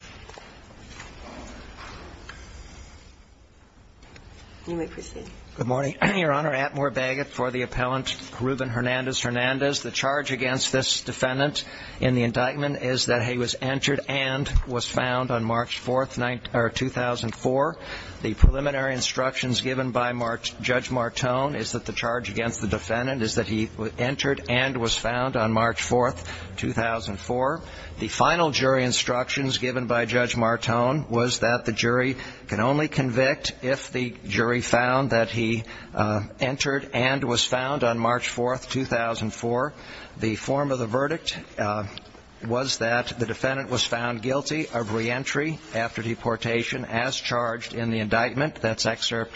hernandez-der French English Durante Navarra Correspondent Good morning, Your Honor. Atmore Baggett for the appellant Ruben Hernandez-Hernandez. The charge against this defendant, in the indictment, is that he was entered and was found on March 4th, 2004. The preliminary instructions given by Judge Martone is that the charge against the defendant surrendders the case to the constituency. The evidence available to the defendant is that he entered and was found on March 4th, 2004. The final jury instructions given by Judge Martone was that the jury can only convict if the jury found that he entered and was found on March 4th, 2004. The form of the verdict was that the defendant was found guilty of reentry after deportation as charged in the indictment. That's excerpt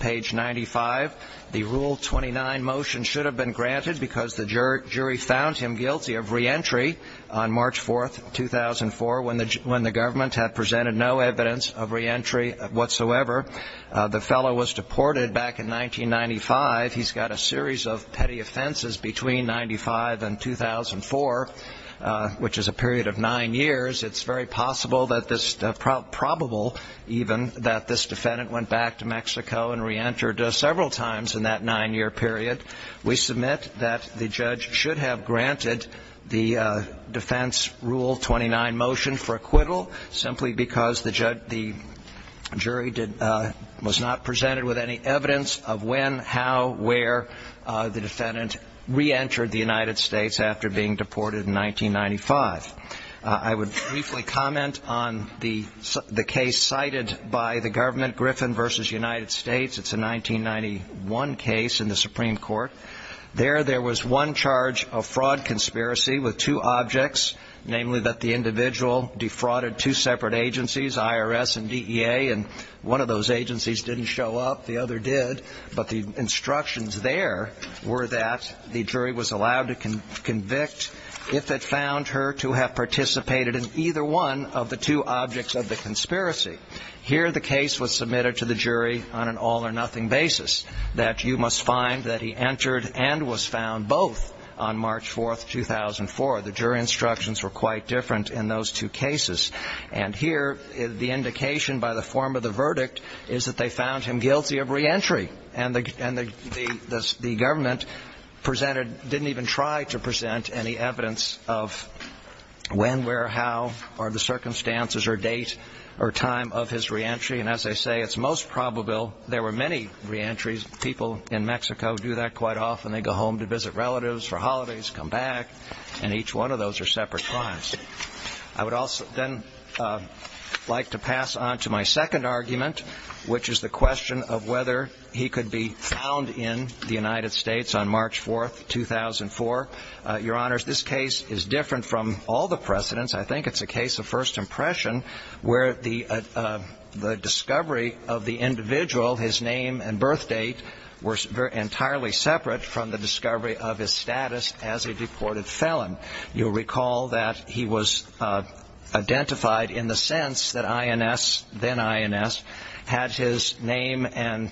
page 95. The Rule 29 motion should have been granted because the jury found him guilty of reentry on March 4th, 2004, when the government had presented no evidence of reentry whatsoever. The fellow was deported back in 1995. He's got a series of petty offenses between 1995 and 2004, which is a period of nine years. It's very possible, probable even, that this defendant went back to Mexico and reentered several times in that nine-year period. We submit that the judge should have granted the Defense Rule 29 motion for acquittal simply because the jury was not presented with any evidence of when, how, where the defendant reentered the United States after being deported in 1995. I would briefly comment on the case cited by the government, Griffin v. United States. It's a 1991 case in the Supreme Court. There there was one charge of fraud conspiracy with two objects, namely that the individual defrauded two separate agencies, IRS and DEA, and one of those agencies didn't show up. The other did. But the instructions there were that the jury was allowed to convict if it found her to have participated in either one of the two objects of the conspiracy. Here the case was submitted to the jury on an all-or-nothing basis, that you must find that he entered and was found both on March 4, 2004. The jury instructions were quite different in those two cases. And here the indication by the form of the verdict is that they found him guilty of reentry. And the government presented, didn't even try to present any evidence of when, where, how or the circumstances or date or time of his reentry. And as I say, it's most probable there were many reentries. People in Mexico do that quite often. They go home to visit relatives for holidays, come back, and each one of those are separate crimes. I would also then like to pass on to my second argument, which is the question of whether he could be found in the United States on March 4, 2004. Your Honors, this case is different from all the precedents. I think it's a case of first impression where the discovery of the individual, his name and birth date, were entirely separate from the discovery of his status as a deported felon. You'll recall that he was identified in the sense that INS, then INS, had his name and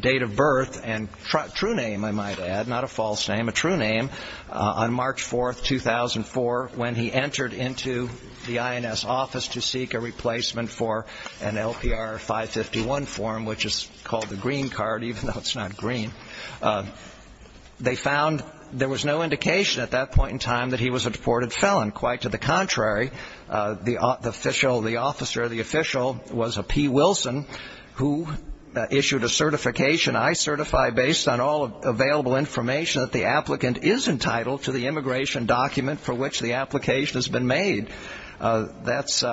date of birth and true name, I might add, not a false name, a true name, on March 4, 2004, when he entered into the INS office to seek a replacement for an LPR 551 form, which is called the green card, even though it's not green. They found there was no indication at that point in time that he was a deported felon. Quite to the contrary, the official, the officer of the official was a P. Wilson who issued a certification, I certify, based on all available information that the applicant is entitled to the immigration document for which the application has been made. That's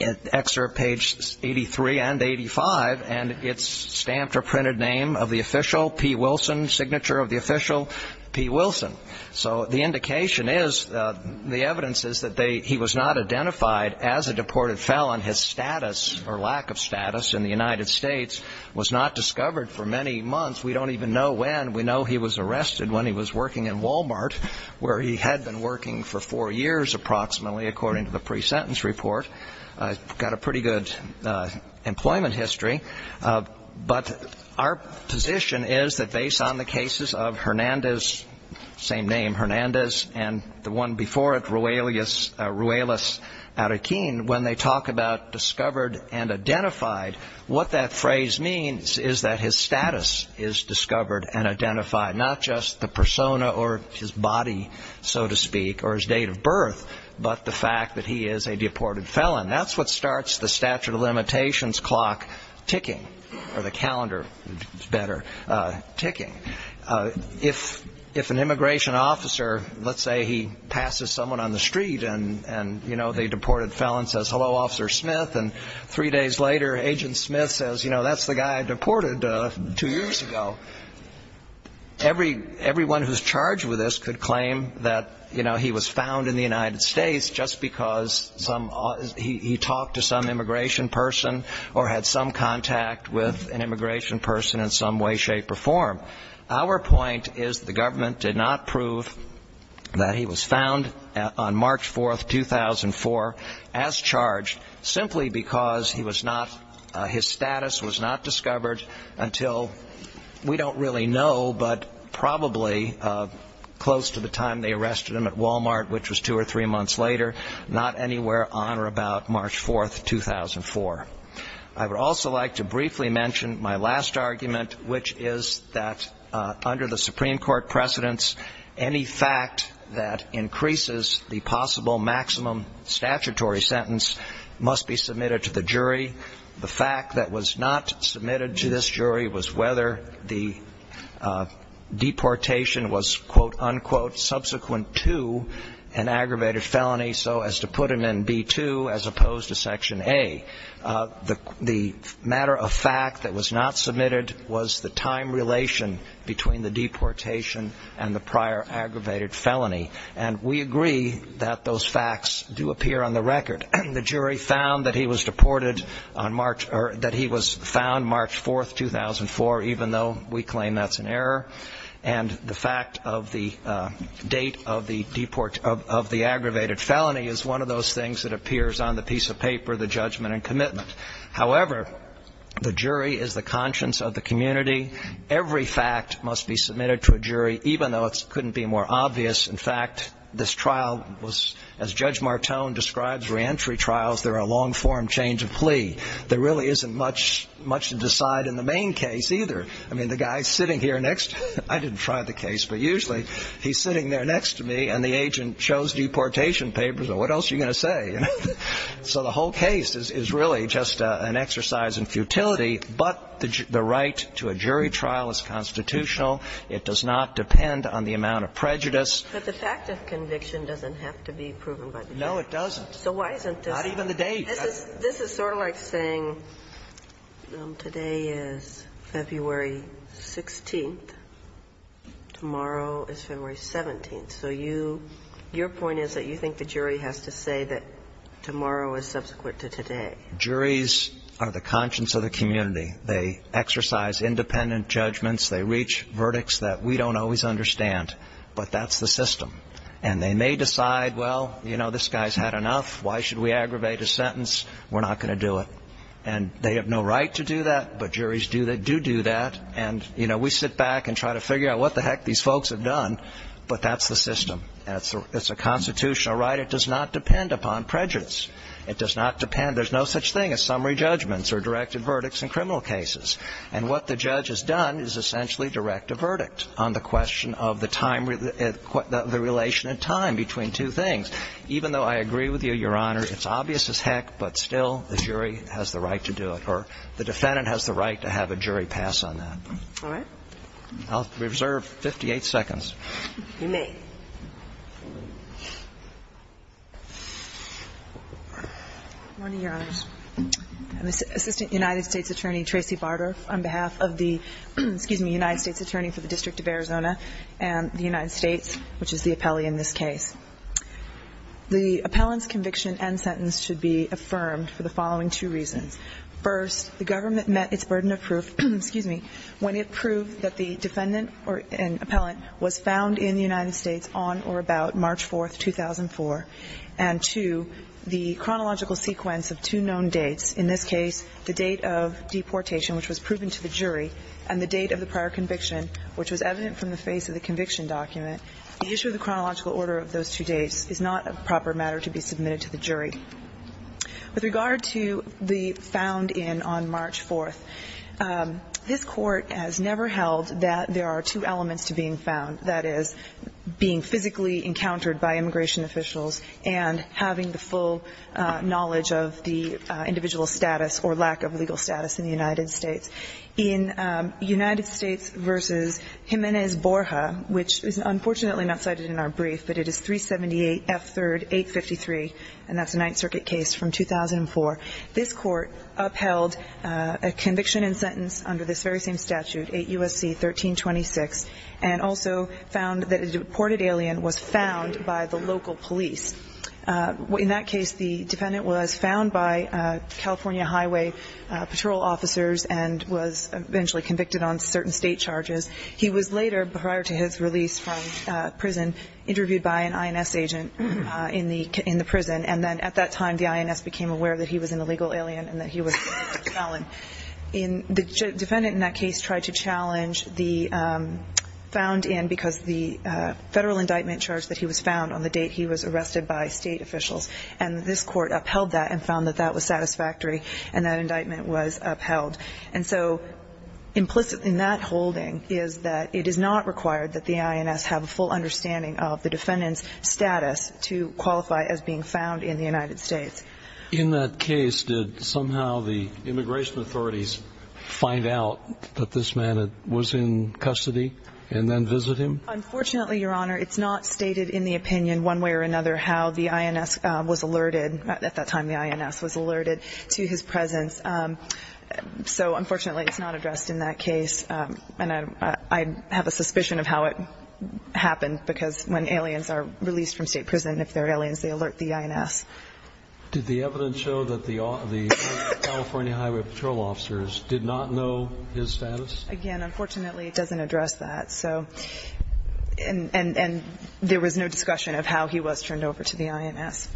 excerpt page 83 and 85, and it's stamped or printed name of the official, P. Wilson, signature of the official, P. Wilson. So the indication is, the evidence is that he was not identified as a deported felon. His status or lack of status in the United States was not discovered for many months. We don't even know when. We know he was arrested when he was working in Walmart, where he had been working for four years, approximately, according to the pre-sentence report. He's got a pretty good employment history. But our position is that based on the cases of Hernandez, same name, Hernandez, and the one before it, Ruelas Araquin, when they talk about discovered and identified, what that the persona or his body, so to speak, or his date of birth, but the fact that he is a deported felon. That's what starts the statute of limitations clock ticking, or the calendar, better, ticking. If an immigration officer, let's say he passes someone on the street and, you know, the deported felon says, hello, Officer Smith, and three days later, Agent Smith says, you know, that's the guy I deported two years ago, everyone who's charged with this could claim that, you know, he was found in the United States just because he talked to some immigration person or had some contact with an immigration person in some way, shape, or form. Our point is the government did not prove that he was found on March 4, 2004, as charged simply because he was not, his status was not discovered until, we don't really know, but probably close to the time they arrested him at Walmart, which was two or three months later, not anywhere on or about March 4, 2004. I would also like to briefly mention my last argument, which is that under the Supreme the jury. The fact that was not submitted to this jury was whether the deportation was, quote, unquote, subsequent to an aggravated felony, so as to put him in B-2, as opposed to Section A. The matter of fact that was not submitted was the time relation between the deportation and the prior aggravated felony, and we agree that those facts do appear on the record. The jury found that he was deported on March, or that he was found March 4, 2004, even though we claim that's an error, and the fact of the date of the deport, of the aggravated felony is one of those things that appears on the piece of paper, the judgment and commitment. However, the jury is the conscience of the community. Every fact must be submitted to a jury, even though it couldn't be more obvious. In fact, this trial was, as Judge Martone describes re-entry trials, they're a long-form change of plea. There really isn't much to decide in the main case either. I mean, the guy sitting here next, I didn't try the case, but usually he's sitting there next to me and the agent shows deportation papers, and what else are you going to say? So the whole case is really just an exercise in futility, but the right to a jury trial is constitutional. It does not depend on the amount of prejudice. But the fact of conviction doesn't have to be proven by the date. No, it doesn't. So why isn't this? Not even the date. This is sort of like saying today is February 16th, tomorrow is February 17th. So you – your point is that you think the jury has to say that tomorrow is subsequent to today. Juries are the conscience of the community. They exercise independent judgments. They reach verdicts that we don't always understand, but that's the system. And they may decide, well, you know, this guy's had enough. Why should we aggravate his sentence? We're not going to do it. And they have no right to do that, but juries do that – do do that. And, you know, we sit back and try to figure out what the heck these folks have done, but that's the system. It's a constitutional right. It does not depend upon prejudice. It does not depend – there's no such thing as summary judgments or directed verdicts in criminal cases. And what the judge has done is essentially direct a verdict on the question of the time – the relation in time between two things. Even though I agree with you, Your Honor, it's obvious as heck, but still the jury has the right to do it, or the defendant has the right to have a jury pass on that. All right. I'll reserve 58 seconds. You may. Good morning, Your Honors. I'm Assistant United States Attorney Tracey Barter on behalf of the – excuse me – United States Attorney for the District of Arizona and the United States, which is the appellee in this case. The appellant's conviction and sentence should be affirmed for the following two reasons. First, the government met its burden of proof – excuse me – when it proved that the defendant or an appellant was found in the United States on or about March 4, 2004, and two, the chronological sequence of two known dates – in this case, the date of deportation, which was proven to the jury, and the date of the prior conviction, which was evident from the face of the conviction document. The issue of the chronological order of those two dates is not a proper matter to be submitted to the jury. With regard to the found in on March 4, this Court has never held that there are two elements to being found, that is, being physically encountered by immigration officials and having the full knowledge of the individual's status or lack of legal status in the United States. In United States v. Jimenez Borja, which is unfortunately not cited in our brief, but it is 378 F. 3rd. 853, and that's a Ninth Circuit case from 2004, this Court upheld a conviction and sentence under this very same statute, 8 U.S.C. 1326, and also found that a deported alien was found by the local police. In that case, the defendant was found by California Highway patrol officers and was eventually convicted on certain state charges. He was later, prior to his release from prison, interviewed by an INS agent in the prison, and then at that time, the INS became aware that he was an illegal alien and that he was a felon. The defendant in that case tried to challenge the found in because the federal indictment charge that he was found on the date he was arrested by state officials, and this Court upheld that and found that that was satisfactory, and that indictment was upheld. And so implicit in that holding is that it is not required that the INS have a full understanding of the defendant's status to qualify as being found in the United States. In that case, did somehow the immigration authorities find out that this man was in custody and then visit him? Unfortunately, Your Honor, it's not stated in the opinion one way or another how the INS was alerted, at that time the INS was alerted, to his presence. So unfortunately, it's not addressed in that case, and I have a suspicion of how it happened because when aliens are released from state prison, if they're aliens, they alert the INS. Did the evidence show that the California Highway Patrol officers did not know his status? Again, unfortunately, it doesn't address that, and there was no discussion of how he was turned over to the INS.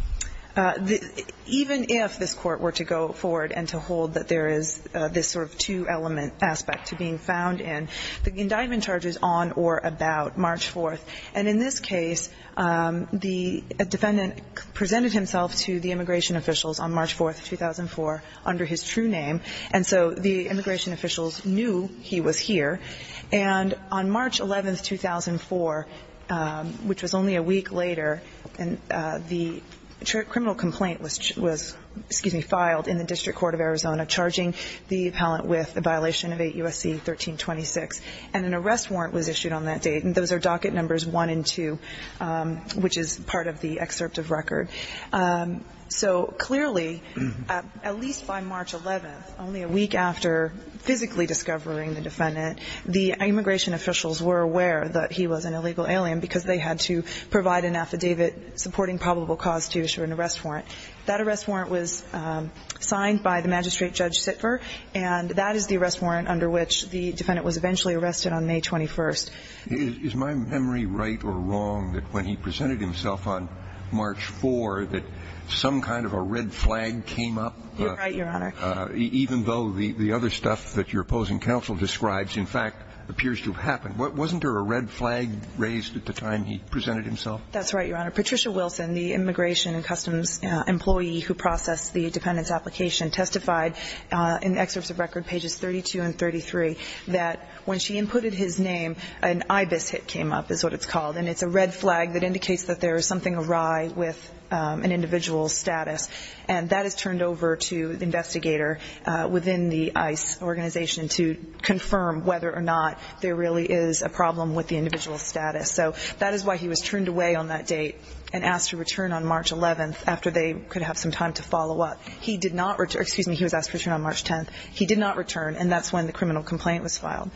Even if this Court were to go forward and to hold that there is this sort of two-element aspect to being found in, the indictment charges on or about March 4th. And in this case, the defendant presented himself to the immigration officials on March 4th, 2004, under his true name, and so the immigration officials knew he was here. And on March 11th, 2004, which was only a week later, the criminal complaint was filed in the District Court of Arizona, charging the appellant with a violation of 8 U.S.C. 1326, and an arrest warrant was issued on that date, and those are docket numbers one and two, which is part of the excerpt of record. So clearly, at least by March 11th, only a week after physically discovering the defendant, the immigration officials were aware that he was an illegal alien because they had to provide an affidavit supporting probable cause to issue an arrest warrant. That arrest warrant was signed by the magistrate, Judge Sitver, and that is the arrest warrant under which the defendant was eventually arrested on May 21st. Is my memory right or wrong that when he presented himself on March 4th, that some kind of a red flag came up? You're right, Your Honor. Even though the other stuff that your opposing counsel describes, in fact, appears to have happened. Wasn't there a red flag raised at the time he presented himself? That's right, Your Honor. Patricia Wilson, the immigration and customs employee who processed the defendant's application, testified in excerpts of record pages 32 and 33 that when she inputted his name, an IBIS hit came up, is what it's called, and it's a red flag that indicates that there is something awry with an individual's status. And that is turned over to the investigator within the ICE organization to confirm whether was turned away on that date and asked to return on March 11th after they could have some time to follow up. He did not return. Excuse me. He was asked to return on March 10th. He did not return, and that's when the criminal complaint was filed.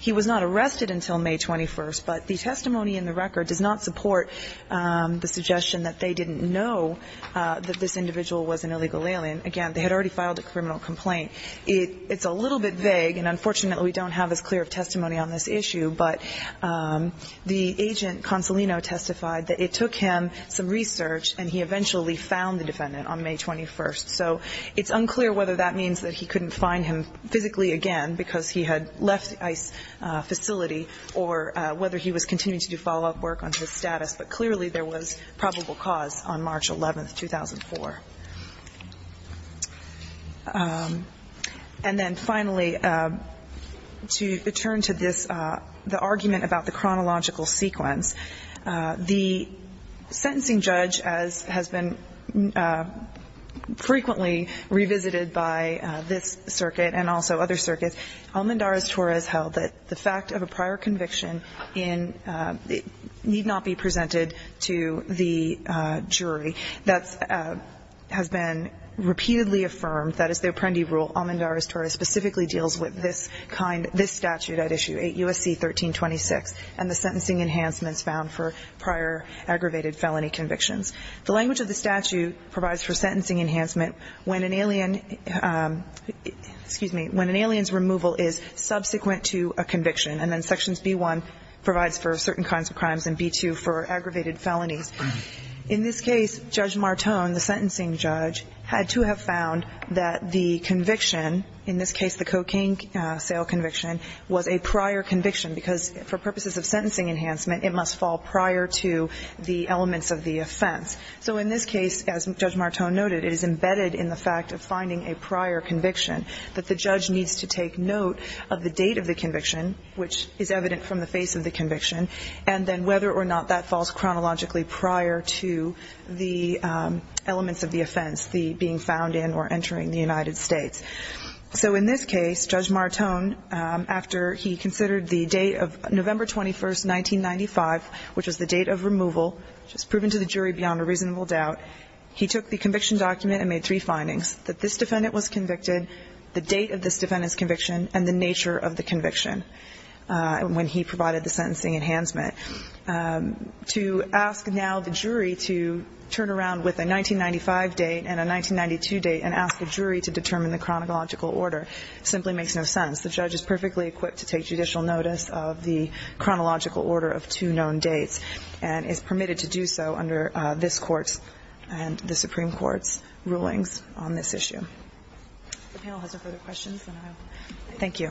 He was not arrested until May 21st, but the testimony in the record does not support the suggestion that they didn't know that this individual was an illegal alien. Again, they had already filed a criminal complaint. It's a little bit vague, and unfortunately, we don't have as clear of testimony on this agent. Consolino testified that it took him some research, and he eventually found the defendant on May 21st, so it's unclear whether that means that he couldn't find him physically again because he had left the ICE facility or whether he was continuing to do follow-up work on his status, but clearly there was probable cause on March 11th, 2004. And then finally, to return to this, the argument about the chronological sequence, the sentencing judge, as has been frequently revisited by this circuit and also other circuits, Almendarez-Torres held that the fact of a prior conviction in the need not be presented to the jury. That has been repeatedly affirmed, that as the Apprendi rule, Almendarez-Torres specifically deals with this statute at issue 8 U.S.C. 1326 and the sentencing enhancements found for prior aggravated felony convictions. The language of the statute provides for sentencing enhancement when an alien's removal is subsequent to a conviction, and then sections B-1 provides for certain kinds of crimes and B-2 for aggravated felonies. In this case, Judge Martone, the sentencing judge, had to have found that the conviction, in this case the cocaine sale conviction, was a prior conviction because for purposes of sentencing enhancement, it must fall prior to the elements of the offense. So in this case, as Judge Martone noted, it is embedded in the fact of finding a prior conviction that the judge needs to take note of the date of the conviction, which is evident from the face of the conviction, and then whether or not that falls chronologically prior to the elements of the offense, the being found in or entering the United States. So in this case, Judge Martone, after he considered the date of November 21, 1995, which was the date of removal, which was proven to the jury beyond a reasonable doubt, he took the conviction document and made three findings, that this defendant was convicted, the date of this defendant's conviction, and the nature of the conviction when he provided the sentencing enhancement. To ask now the jury to turn around with a 1995 date and a 1992 date and ask the jury to determine the chronological order simply makes no sense. The judge is perfectly equipped to take judicial notice of the chronological order of two known dates and is permitted to do so under this Court's and the Supreme Court's rulings on this issue. If the panel has no further questions, then I will. Thank you.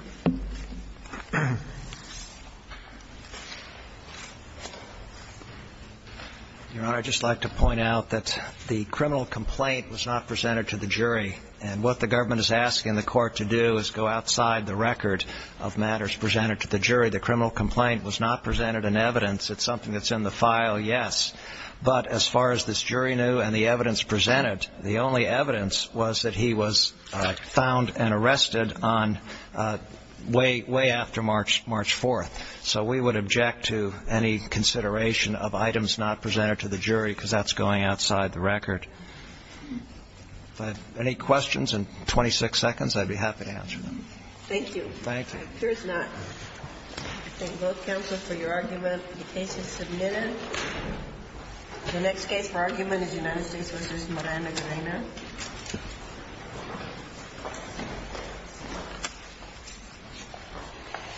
Your Honor, I'd just like to point out that the criminal complaint was not presented to the jury, and what the government is asking the court to do is go outside the record of matters presented to the jury. The criminal complaint was not presented in evidence. It's something that's in the file, yes, but as far as this jury knew and the evidence presented, the only evidence was that he was found and arrested on way after March 4th. So we would object to any consideration of items not presented to the jury because that's going outside the record. If I have any questions in 26 seconds, I'd be happy to answer them. Thank you. Thank you. It appears not. I thank both counsel for your argument. The case is submitted. The next case for argument is United States v. Moreno-Grena.